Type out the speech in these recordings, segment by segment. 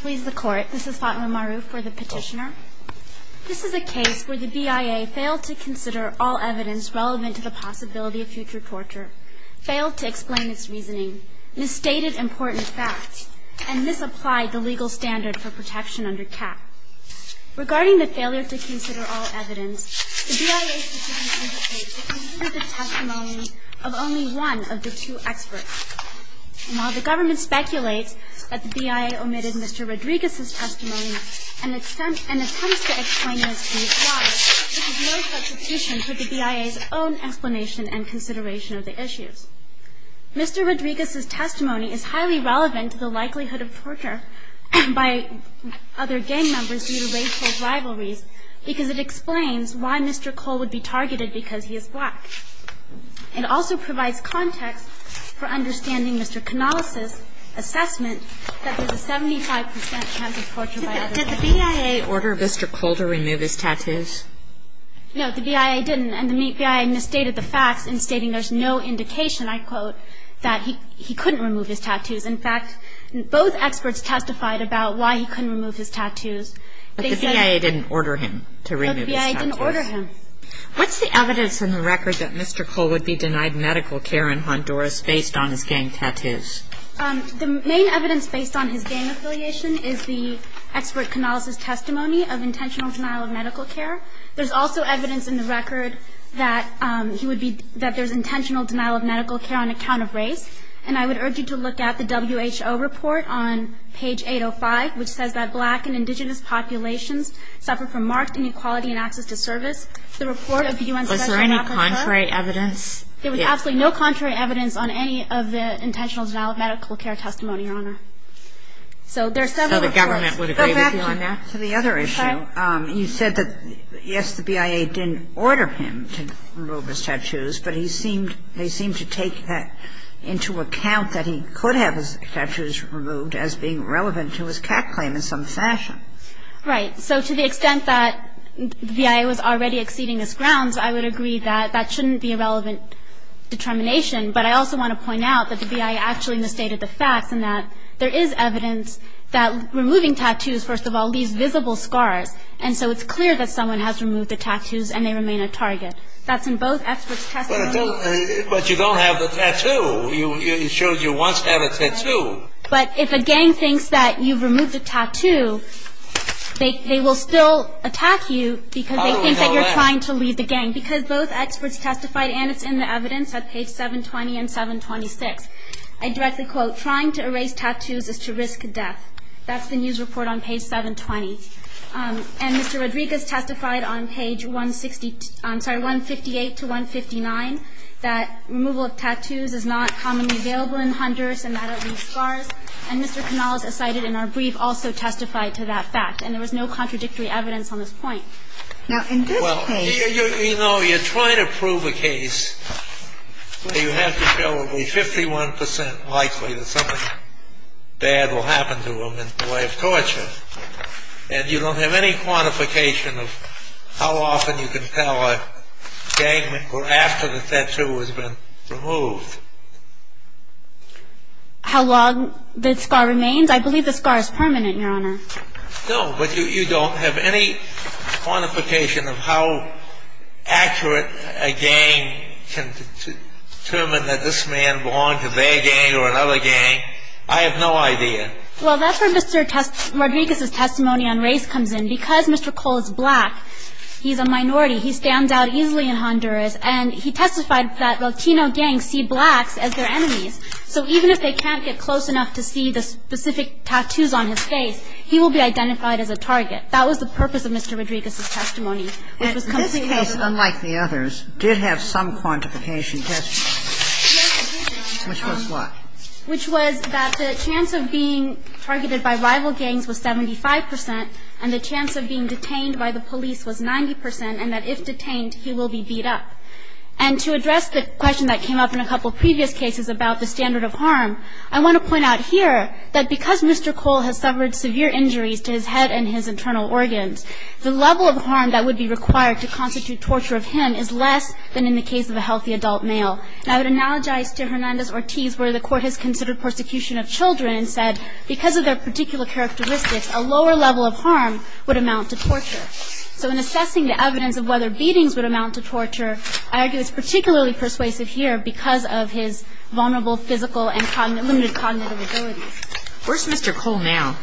Please the court. This is Fatima Maru for the petitioner. This is a case where the BIA failed to consider all evidence relevant to the possibility of future torture, failed to explain its reasoning, misstated important facts, and misapplied the legal standard for protection under CAP. Regarding the failure to consider all evidence, the BIA's decision to debate included the testimony of only one of the two experts. While the government speculates that the BIA omitted Mr. Rodriguez's testimony and attempts to explain as to why, it has no substitution for the BIA's own explanation and consideration of the issues. Mr. Rodriguez's testimony is highly relevant to the likelihood of torture by other gang members due to racial rivalries because it explains why Mr. Cole would be targeted because he is black. It also provides context for understanding Mr. Canales' assessment that there's a 75% chance of torture by other gang members. Did the BIA order Mr. Cole to remove his tattoos? No, the BIA didn't. And the BIA misstated the facts in stating there's no indication, I quote, that he couldn't remove his tattoos. In fact, both experts testified about why he couldn't remove his tattoos. But the BIA didn't order him to remove his tattoos. No, the BIA didn't order him. What's the evidence in the record that Mr. Cole would be denied medical care in Honduras based on his gang tattoos? The main evidence based on his gang affiliation is the expert Canales' testimony of intentional denial of medical care. There's also evidence in the record that he would be – that there's intentional denial of medical care on account of race. And I would urge you to look at the WHO report on page 805, which says that black and indigenous populations suffer from marked inequality in access to service. The report of the U.N. special rapporteur. Was there any contrary evidence? There was absolutely no contrary evidence on any of the intentional denial of medical care testimony, Your Honor. So there are several reports. So the government would agree with you on that? Go back to the other issue. Okay. You said that, yes, the BIA didn't order him to remove his tattoos, but he seemed – they seemed to take that into account that he could have his tattoos removed as being relevant to his cat claim in some fashion. Right. So to the extent that the BIA was already exceeding its grounds, I would agree that that shouldn't be a relevant determination. But I also want to point out that the BIA actually misstated the facts and that there is evidence that removing tattoos, first of all, leaves visible scars. And so it's clear that someone has removed the tattoos and they remain a target. That's in both experts' testimony. But you don't have the tattoo. You showed you once had a tattoo. But if a gang thinks that you've removed a tattoo, they will still attack you because they think that you're trying to lead the gang. Because both experts testified, and it's in the evidence at page 720 and 726, I directly quote, trying to erase tattoos is to risk death. That's the news report on page 720. And Mr. Rodriguez testified on page 160 – I'm sorry, 158 to 159, that removal of tattoos is not commonly available in hunters and that it leaves scars. And Mr. Canales, as cited in our brief, also testified to that fact. And there was no contradictory evidence on this point. Now, in this case – Well, you know, you're trying to prove a case. You have to show it will be 51 percent likely that something bad will happen to them in the way of torture. And you don't have any quantification of how often you can tell a gang member after the tattoo has been removed. How long the scar remains? I believe the scar is permanent, Your Honor. No, but you don't have any quantification of how accurate a gang can determine that this man belonged to their gang or another gang. I have no idea. Well, that's where Mr. Rodriguez's testimony on race comes in. Because Mr. Cole is black, he's a minority. He stands out easily in Honduras. And he testified that Latino gangs see blacks as their enemies. So even if they can't get close enough to see the specific tattoos on his face, he will be identified as a target. That was the purpose of Mr. Rodriguez's testimony. And this case, unlike the others, did have some quantification testimony. Yes, it did, Your Honor. Which was what? Which was that the chance of being targeted by rival gangs was 75 percent, and the chance of being detained by the police was 90 percent, and that if detained, he will be beat up. And to address the question that came up in a couple of previous cases about the standard of harm, I want to point out here that because Mr. Cole has suffered severe injuries to his head and his internal organs, the level of harm that would be required to constitute torture of him is less than in the case of a healthy adult male. And I would analogize to Hernandez-Ortiz, where the court has considered persecution of children and said because of their particular characteristics, a lower level of harm would amount to torture. So in assessing the evidence of whether beatings would amount to torture, I argue it's particularly persuasive here because of his vulnerable physical and limited cognitive abilities. Where's Mr. Cole now?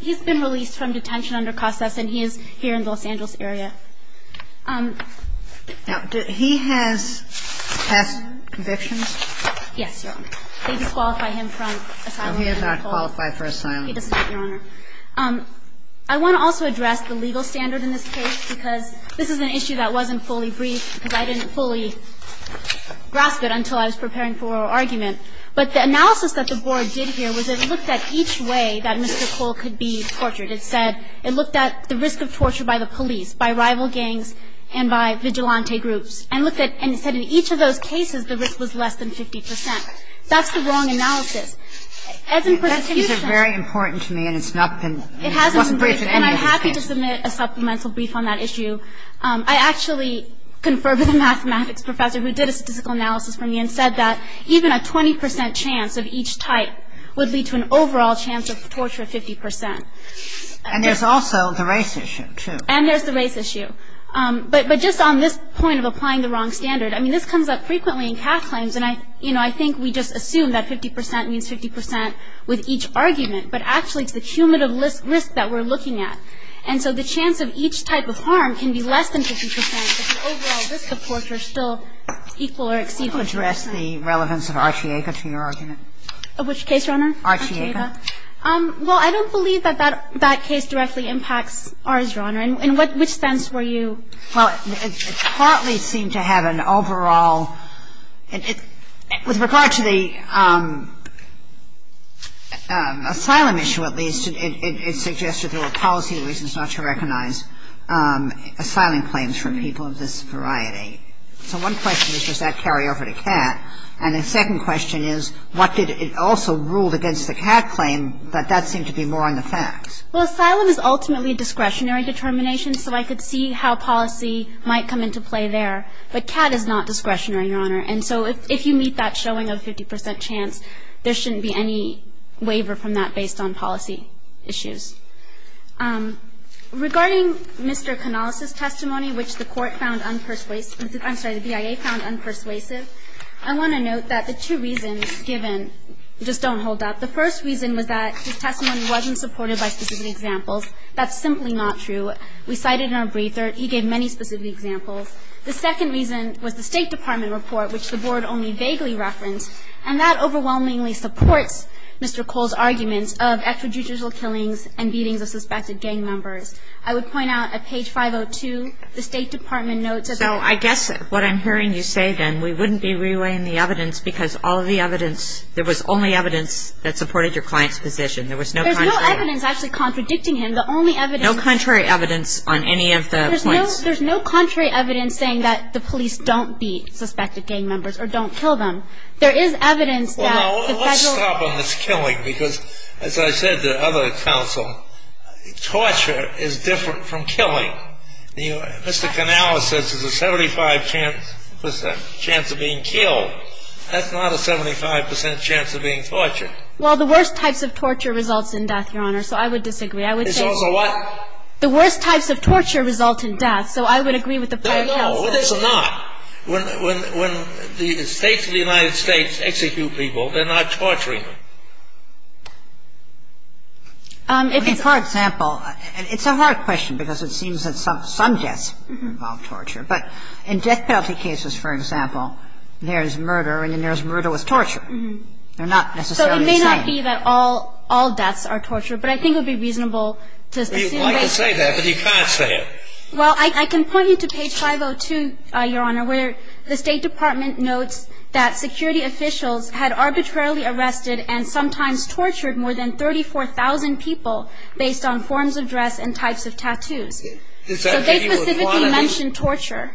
He's been released from detention under COSAS, and he is here in the Los Angeles area. Now, he has past convictions? Yes, Your Honor. They disqualify him from asylum. He does not qualify for asylum. He does not, Your Honor. I want to also address the legal standard in this case because this is an issue that wasn't fully briefed because I didn't fully grasp it until I was preparing for oral argument. But the analysis that the Board did here was it looked at each way that Mr. Cole could be tortured. It said it looked at the risk of torture by the police, by rival gangs, and by vigilante groups. And it said in each of those cases, the risk was less than 50 percent. That's the wrong analysis. As in persecution ---- It hasn't been briefed. It wasn't briefed in any of those cases. And I'm happy to submit a supplemental brief on that issue. I actually confer with a mathematics professor who did a statistical analysis for me and said that even a 20 percent chance of each type would lead to an overall chance of torture of 50 percent. And there's also the race issue, too. And there's the race issue. But just on this point of applying the wrong standard, I mean, this comes up frequently in CAF claims, and I think we just assume that 50 percent means 50 percent with each argument. But actually, it's the cumulative risk that we're looking at. And so the chance of each type of harm can be less than 50 percent if the overall risk of torture is still equal or exceed 50 percent. Can you address the relevance of Archie Aka to your argument? Of which case, Your Honor? Archie Aka. Well, I don't believe that that case directly impacts ours, Your Honor. In which sense were you ---- Well, it partly seemed to have an overall ---- With regard to the asylum issue, at least, it suggested there were policy reasons not to recognize asylum claims from people of this variety. So one question is, does that carry over to CAT? And the second question is, what did it also rule against the CAT claim that that seemed to be more on the facts? Well, asylum is ultimately a discretionary determination, so I could see how policy might come into play there. But CAT is not discretionary, Your Honor. And so if you meet that showing of 50 percent chance, there shouldn't be any waiver from that based on policy issues. Regarding Mr. Canales' testimony, which the court found unpersuasive ---- I'm sorry, the BIA found unpersuasive, I want to note that the two reasons given just don't hold up. The first reason was that his testimony wasn't supported by specific examples. That's simply not true. We cited in our briefer, he gave many specific examples. The second reason was the State Department report, which the Board only vaguely referenced, and that overwhelmingly supports Mr. Cole's arguments of extrajudicial killings and beatings of suspected gang members. I would point out at page 502, the State Department notes that ---- So I guess what I'm hearing you say, then, we wouldn't be relaying the evidence because all of the evidence ---- there was only evidence that supported your client's position. There was no contrary ---- There's no evidence actually contradicting him. The only evidence ---- No contrary evidence on any of the points. There's no contrary evidence saying that the police don't beat suspected gang members or don't kill them. There is evidence that the Federal ---- Well, let's stop on this killing because, as I said to other counsel, torture is different from killing. Mr. Canales says there's a 75 percent chance of being killed. That's not a 75 percent chance of being tortured. Well, the worst types of torture results in death, Your Honor, so I would disagree. I would say ---- It's also what ---- The worst types of torture result in death, so I would agree with the prior counsel. No, no. It's not. When the States of the United States execute people, they're not torturing them. If it's ---- I mean, for example, it's a hard question because it seems that some deaths involve torture. But in death penalty cases, for example, there's murder and then there's murder with torture. They're not necessarily the same. So it may not be that all deaths are torture, but I think it would be reasonable to assume that ---- Well, you like to say that, but you can't say it. Well, I can point you to page 502, Your Honor, where the State Department notes that security officials had arbitrarily arrested and sometimes tortured more than 34,000 people based on forms of dress and types of tattoos. Is that ---- So they specifically mention torture.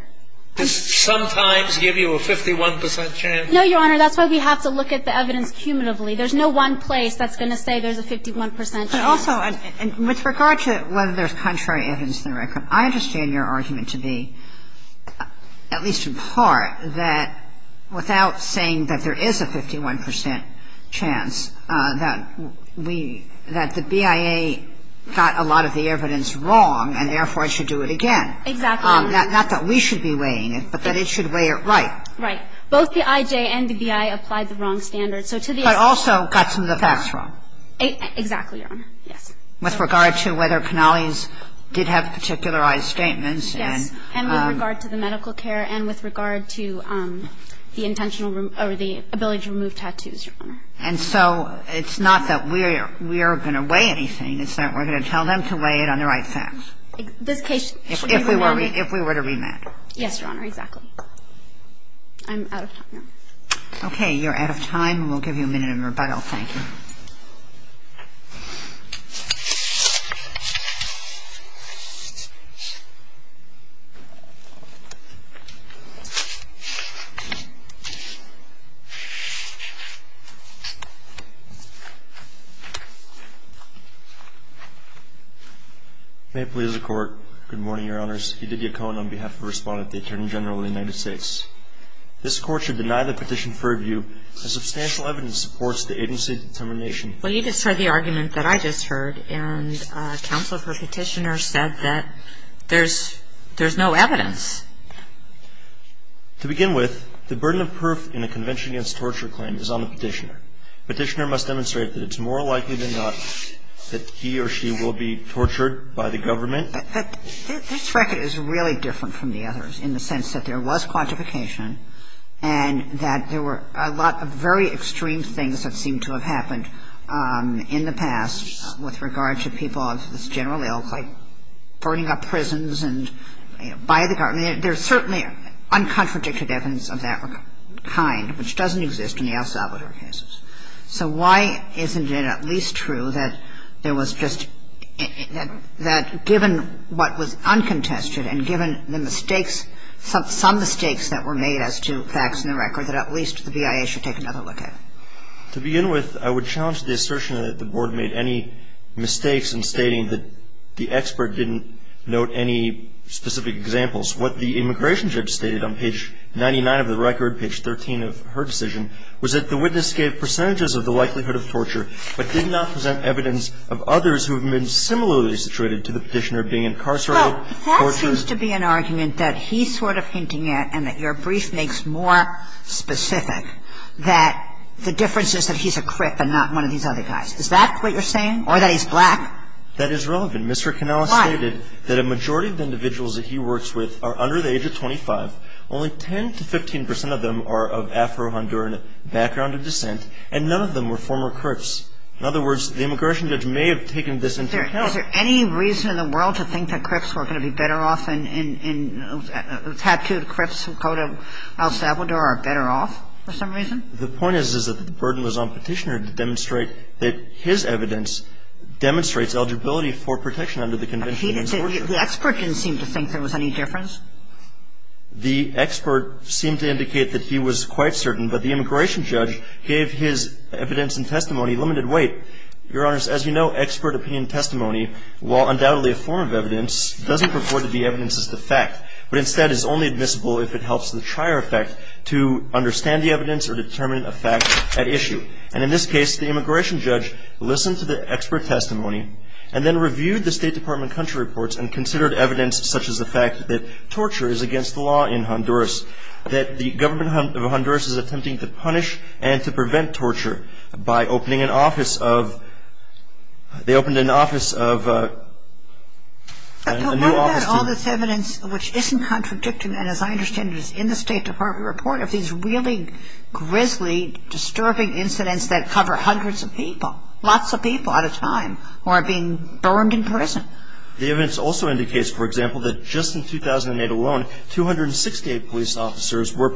Does sometimes give you a 51 percent chance? No, Your Honor. That's why we have to look at the evidence cumulatively. There's no one place that's going to say there's a 51 percent chance. But also, with regard to whether there's contrary evidence in the record, I understand your argument to be, at least in part, that without saying that there is a 51 percent chance, that we ---- that the BIA got a lot of the evidence wrong and therefore should do it again. Exactly, Your Honor. Not that we should be weighing it, but that it should weigh it right. Right. Both the IJ and the BIA applied the wrong standards. So to the extent that ---- But also got some of the facts wrong. Exactly, Your Honor. Yes. With regard to whether Canales did have particularized statements and ---- Yes. And with regard to the medical care and with regard to the intentional or the ability to remove tattoos, Your Honor. And so it's not that we are going to weigh anything. It's that we're going to tell them to weigh it on the right facts. This case should be remanded. If we were to remand. Yes, Your Honor. Exactly. I'm out of time now. Okay. You're out of time. We'll give you a minute in rebuttal. Thank you. Thank you. May it please the Court. Good morning, Your Honors. Edith Yacon on behalf of the Respondent, the Attorney General of the United States. This Court should deny the petition for review as substantial evidence supports the agency determination ---- Well, you just heard the argument that I just heard, and counsel for petitioner said that there's no evidence. To begin with, the burden of proof in a convention against torture claim is on the petitioner. Petitioner must demonstrate that it's more likely than not that he or she will be tortured by the government. This record is really different from the others in the sense that there was quantification and that there were a lot of very extreme things that seemed to have happened in the past with regard to people of this general ilk like burning up prisons and, you know, by the government. There's certainly uncontradicted evidence of that kind, which doesn't exist in the El Salvador cases. So why isn't it at least true that there was just ---- that given what was uncontested and given the mistakes, some mistakes that were made as to facts in the record, that at least the BIA should take another look at it? To begin with, I would challenge the assertion that the Board made any mistakes in stating that the expert didn't note any specific examples. What the immigration judge stated on page 99 of the record, page 13 of her decision, was that the witness gave percentages of the likelihood of torture but did not present evidence of others who have been similarly situated to the petitioner being incarcerated, tortured. Well, that seems to be an argument that he's sort of hinting at and that your brief makes more specific, that the difference is that he's a crip and not one of these other guys. Is that what you're saying? Or that he's black? That is relevant. Mr. Canales stated that a majority of the individuals that he works with are under the age of 25. Only 10 to 15 percent of them are of Afro-Honduran background and descent, and none of them were former crips. In other words, the immigration judge may have taken this into account. Is there any reason in the world to think that crips were going to be better off and tattooed crips who go to El Salvador are better off for some reason? The point is, is that the burden was on Petitioner to demonstrate that his evidence demonstrates eligibility for protection under the Convention on the Use of Torture. The expert didn't seem to think there was any difference. The expert seemed to indicate that he was quite certain, but the immigration judge gave his evidence and testimony limited weight. Your Honors, as you know, expert opinion testimony, while undoubtedly a form of evidence, doesn't purport to be evidence as to fact, but instead is only admissible if it helps the trier effect to understand the evidence or determine a fact at issue. And in this case, the immigration judge listened to the expert testimony and then reviewed the State Department country reports and considered evidence such as the fact that torture is against the law in Honduras, that the government of Honduras is attempting to punish and to punish the government of Honduras. The State Department reported that they opened an office of a new office to But what about all this evidence which isn't contradicting, and as I understand it, is in the State Department report of these really grisly, disturbing incidents that cover hundreds of people, lots of people at a time, who are being burned in prison? The evidence also indicates, for example, that just in 2008 alone, 268 police officers were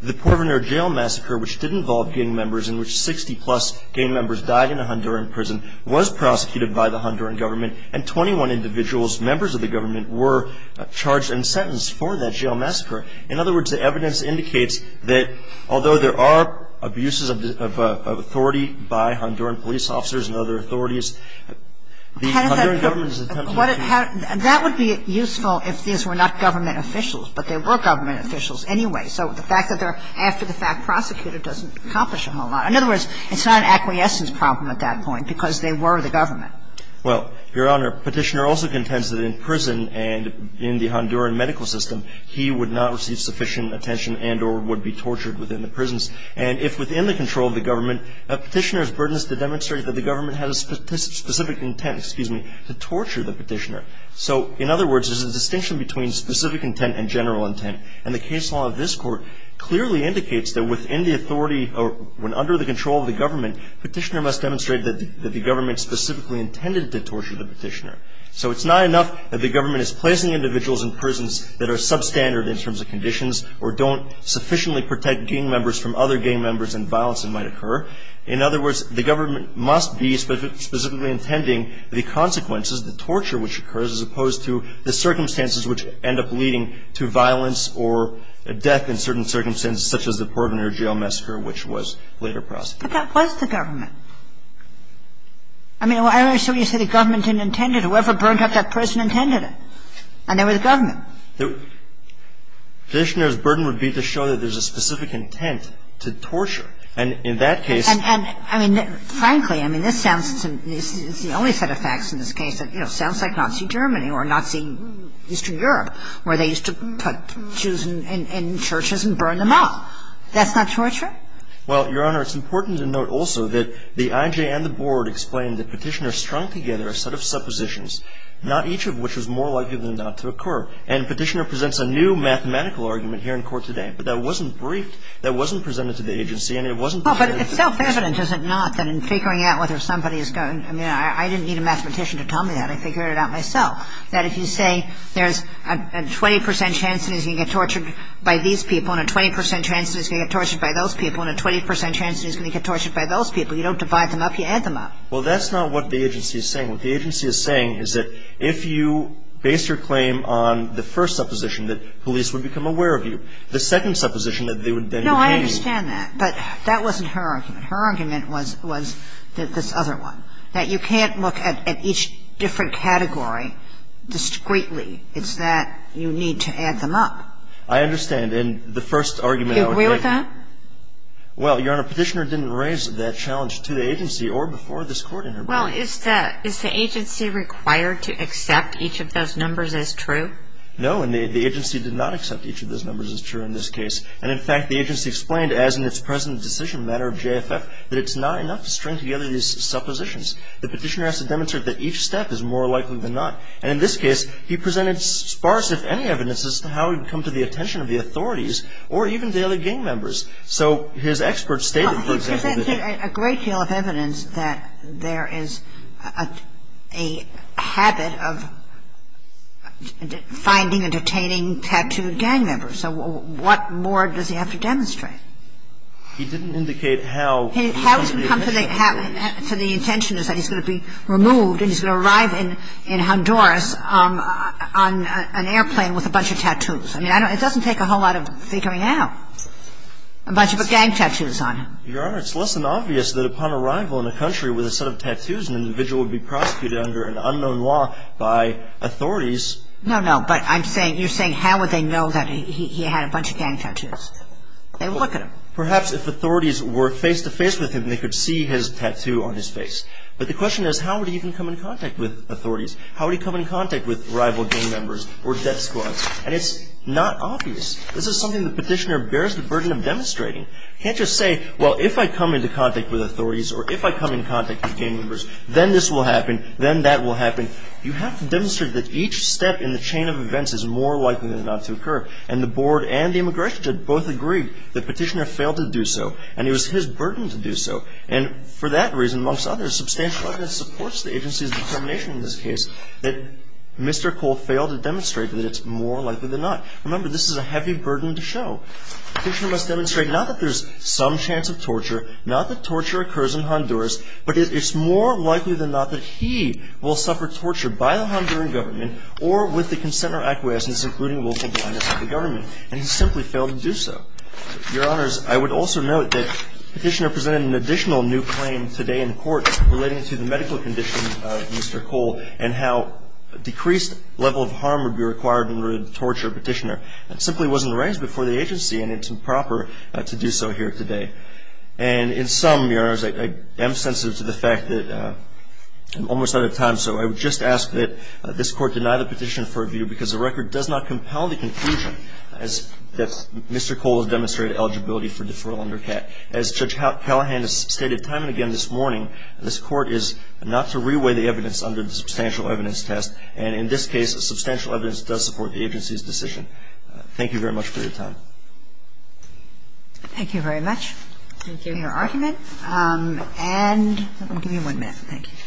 The Porvenir jail massacre, which did involve gang members, in which 60-plus gang members died in a Honduran prison, was prosecuted by the Honduran government, and 21 individuals, members of the government, were charged and sentenced for that jail massacre. In other words, the evidence indicates that although there are abuses of authority by Honduran police officers and other authorities, the Honduran government is attempting That would be useful if these were not government officials, but they were government officials anyway. So the fact that they're after the fact prosecuted doesn't accomplish a whole lot. In other words, it's not an acquiescence problem at that point because they were the government. Well, Your Honor, Petitioner also contends that in prison and in the Honduran medical system, he would not receive sufficient attention and or would be tortured within the prisons. And if within the control of the government, Petitioner's burden is to demonstrate that the government has a specific intent, excuse me, to torture the Petitioner. So in other words, there's a distinction between specific intent and general intent. And the case law of this Court clearly indicates that within the authority or when under the control of the government, Petitioner must demonstrate that the government specifically intended to torture the Petitioner. So it's not enough that the government is placing individuals in prisons that are substandard in terms of conditions or don't sufficiently protect gang members from other gang members and violence that might occur. In other words, the government must be specifically intending the consequences, the torture which occurs, as opposed to the circumstances which end up leading to violence or death in certain circumstances such as the Portlander Jail massacre which was later prosecuted. But that was the government. I mean, why are you saying the government didn't intend it? Whoever burned up that prison intended it. And they were the government. Petitioner's burden would be to show that there's a specific intent to torture. And in that case And, I mean, frankly, I mean, this sounds, it's the only set of facts in this case that, you know, sounds like Nazi Germany or Nazi Eastern Europe where they used to put Jews in churches and burn them up. That's not torture? Well, Your Honor, it's important to note also that the IJ and the Board explained that Petitioner strung together a set of suppositions, not each of which was more likely than not to occur. And Petitioner presents a new mathematical argument here in court today. And the IJ and the Board are the same. But that wasn't briefed. That wasn't presented to the agency. And it wasn't presented to the agency. But it's self-evident, is it not, that in figuring out whether somebody is going to go to jail, I didn't need a mathematician to tell me that. I figured it out myself. That if you say there's a 20 percent chance that he's going to get tortured by these people and a 20 percent chance that he's going to get tortured by those people and a 20 percent chance that he's going to get tortured by those people, you don't divide them up. You add them up. Well, that's not what the agency is saying. What the agency is saying is that if you base your claim on the first supposition that police would become aware of you, the second supposition that they would then be paid. No, I understand that. But that wasn't her argument. Her argument was this other one, that you can't look at each different category discreetly. It's that you need to add them up. I understand. And the first argument I would make — You agree with that? Well, Your Honor, Petitioner didn't raise that challenge to the agency or before this Court interview. Well, is the agency required to accept each of those numbers as true? No. And the agency did not accept each of those numbers as true in this case. And, in fact, the agency explained, as in its present decision matter of JFF, that it's not enough to string together these suppositions. The Petitioner has to demonstrate that each step is more likely than not. And in this case, he presented sparse, if any, evidence as to how he would come to the attention of the authorities or even the other gang members. So his experts stated, for example, that — He didn't indicate how — How he's going to come to the — to the intention is that he's going to be removed and he's going to arrive in Honduras on an airplane with a bunch of tattoos. I mean, I don't — it doesn't take a whole lot of figuring out. A bunch of gang tattoos on him. Your Honor, it's less than obvious that upon arrival in a country with a set of tattoos, an individual would be prosecuted under an unknown law by authorities. No, no. But I'm saying — you're saying how would they know that he had a bunch of gang tattoos? They would look at him. Perhaps if authorities were face-to-face with him, they could see his tattoo on his face. But the question is, how would he even come in contact with authorities? How would he come in contact with rival gang members or death squads? And it's not obvious. This is something the Petitioner bears the burden of demonstrating. He can't just say, well, if I come into contact with authorities or if I come in contact with gang members, then this will happen, then that will happen. You have to demonstrate that each step in the chain of events is more likely than not to occur. And the Board and the immigration judge both agreed that Petitioner failed to do so. And it was his burden to do so. And for that reason, amongst others, substantial evidence supports the agency's determination in this case that Mr. Cole failed to demonstrate that it's more likely than not. Remember, this is a heavy burden to show. Petitioner must demonstrate not that there's some chance of torture, not that torture occurs in Honduras, but it's more likely than not that he will suffer torture by the Honduran government or with the consent or acquiescence including local blindness of the government. And he simply failed to do so. Your Honors, I would also note that Petitioner presented an additional new claim today in court relating to the medical condition of Mr. Cole and how a decreased level of harm would be required in order to torture Petitioner. That simply wasn't raised before the agency, and it's improper to do so here today. And in sum, Your Honors, I am sensitive to the fact that I'm almost out of time, so I would just ask that this Court deny the petition for review because the record does not compel the conclusion that Mr. Cole has demonstrated eligibility for deferral under CAT. As Judge Callahan has stated time and again this morning, this Court is not to reweigh the evidence under the substantial evidence test. And in this case, substantial evidence does support the agency's decision. Thank you very much for your time. Thank you very much for your argument. Thank you. And I'm going to give you one minute. Thank you.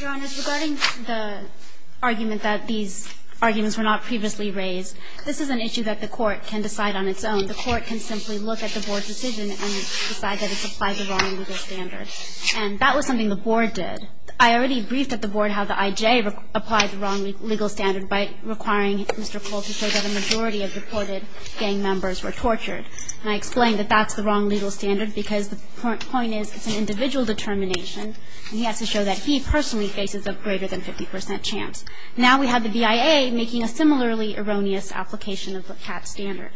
Your Honors, regarding the argument that these arguments were not previously raised, this is an issue that the Court can decide on its own. The Court can simply look at the Board's decision and decide that it's applied the wrong legal standard. And that was something the Board did. I already briefed at the Board how the IJ applied the wrong legal standard by requiring Mr. Cole to show that a majority of deported gang members were tortured. And I explained that that's the wrong legal standard because the point is it's an individual determination, and he has to show that he personally faces a greater than 50 percent chance. Now we have the BIA making a similarly erroneous application of the CAT standard.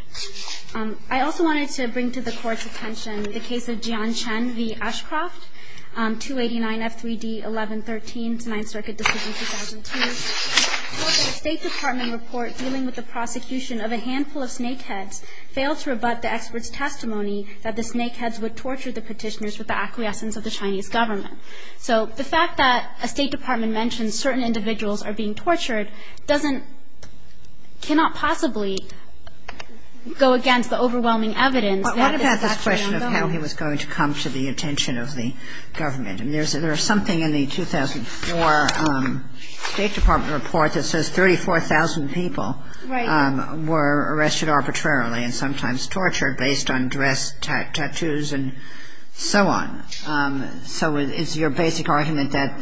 I also wanted to bring to the Court's attention the case of Jian Chen v. Ashcroft, 289F3D1113, 9th Circuit decision 2002. The State Department report dealing with the prosecution of a handful of snakeheads failed to rebut the expert's testimony that the snakeheads would torture the Petitioners with the acquiescence of the Chinese government. So the fact that a State Department mentions certain individuals are being tortured doesn't – cannot possibly go against the overwhelming evidence that this is actually unlawful. I just wondered how he was going to come to the attention of the government. I mean, there's something in the 2004 State Department report that says 34,000 people were arrested arbitrarily and sometimes tortured based on dress, tattoos, and so on. So is your basic argument that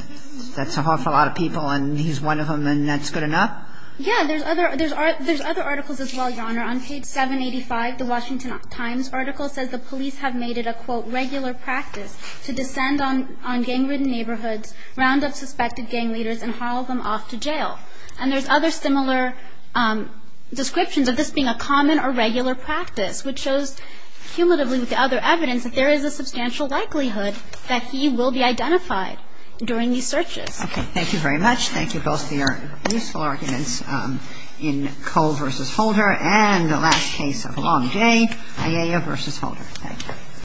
that's an awful lot of people and he's one of them and that's good enough? Yeah. There's other articles as well, Your Honor. On page 785, the Washington Times article says the police have made it a, quote, regular practice to descend on gang-ridden neighborhoods, round up suspected gang leaders, and haul them off to jail. And there's other similar descriptions of this being a common or regular practice, which shows cumulatively with the other evidence that there is a substantial likelihood that he will be identified during these searches. Okay. Thank you very much. Thank you both for your useful arguments in Cole v. Holder and the last case of Long Day, Ayala v. Holder. Thank you.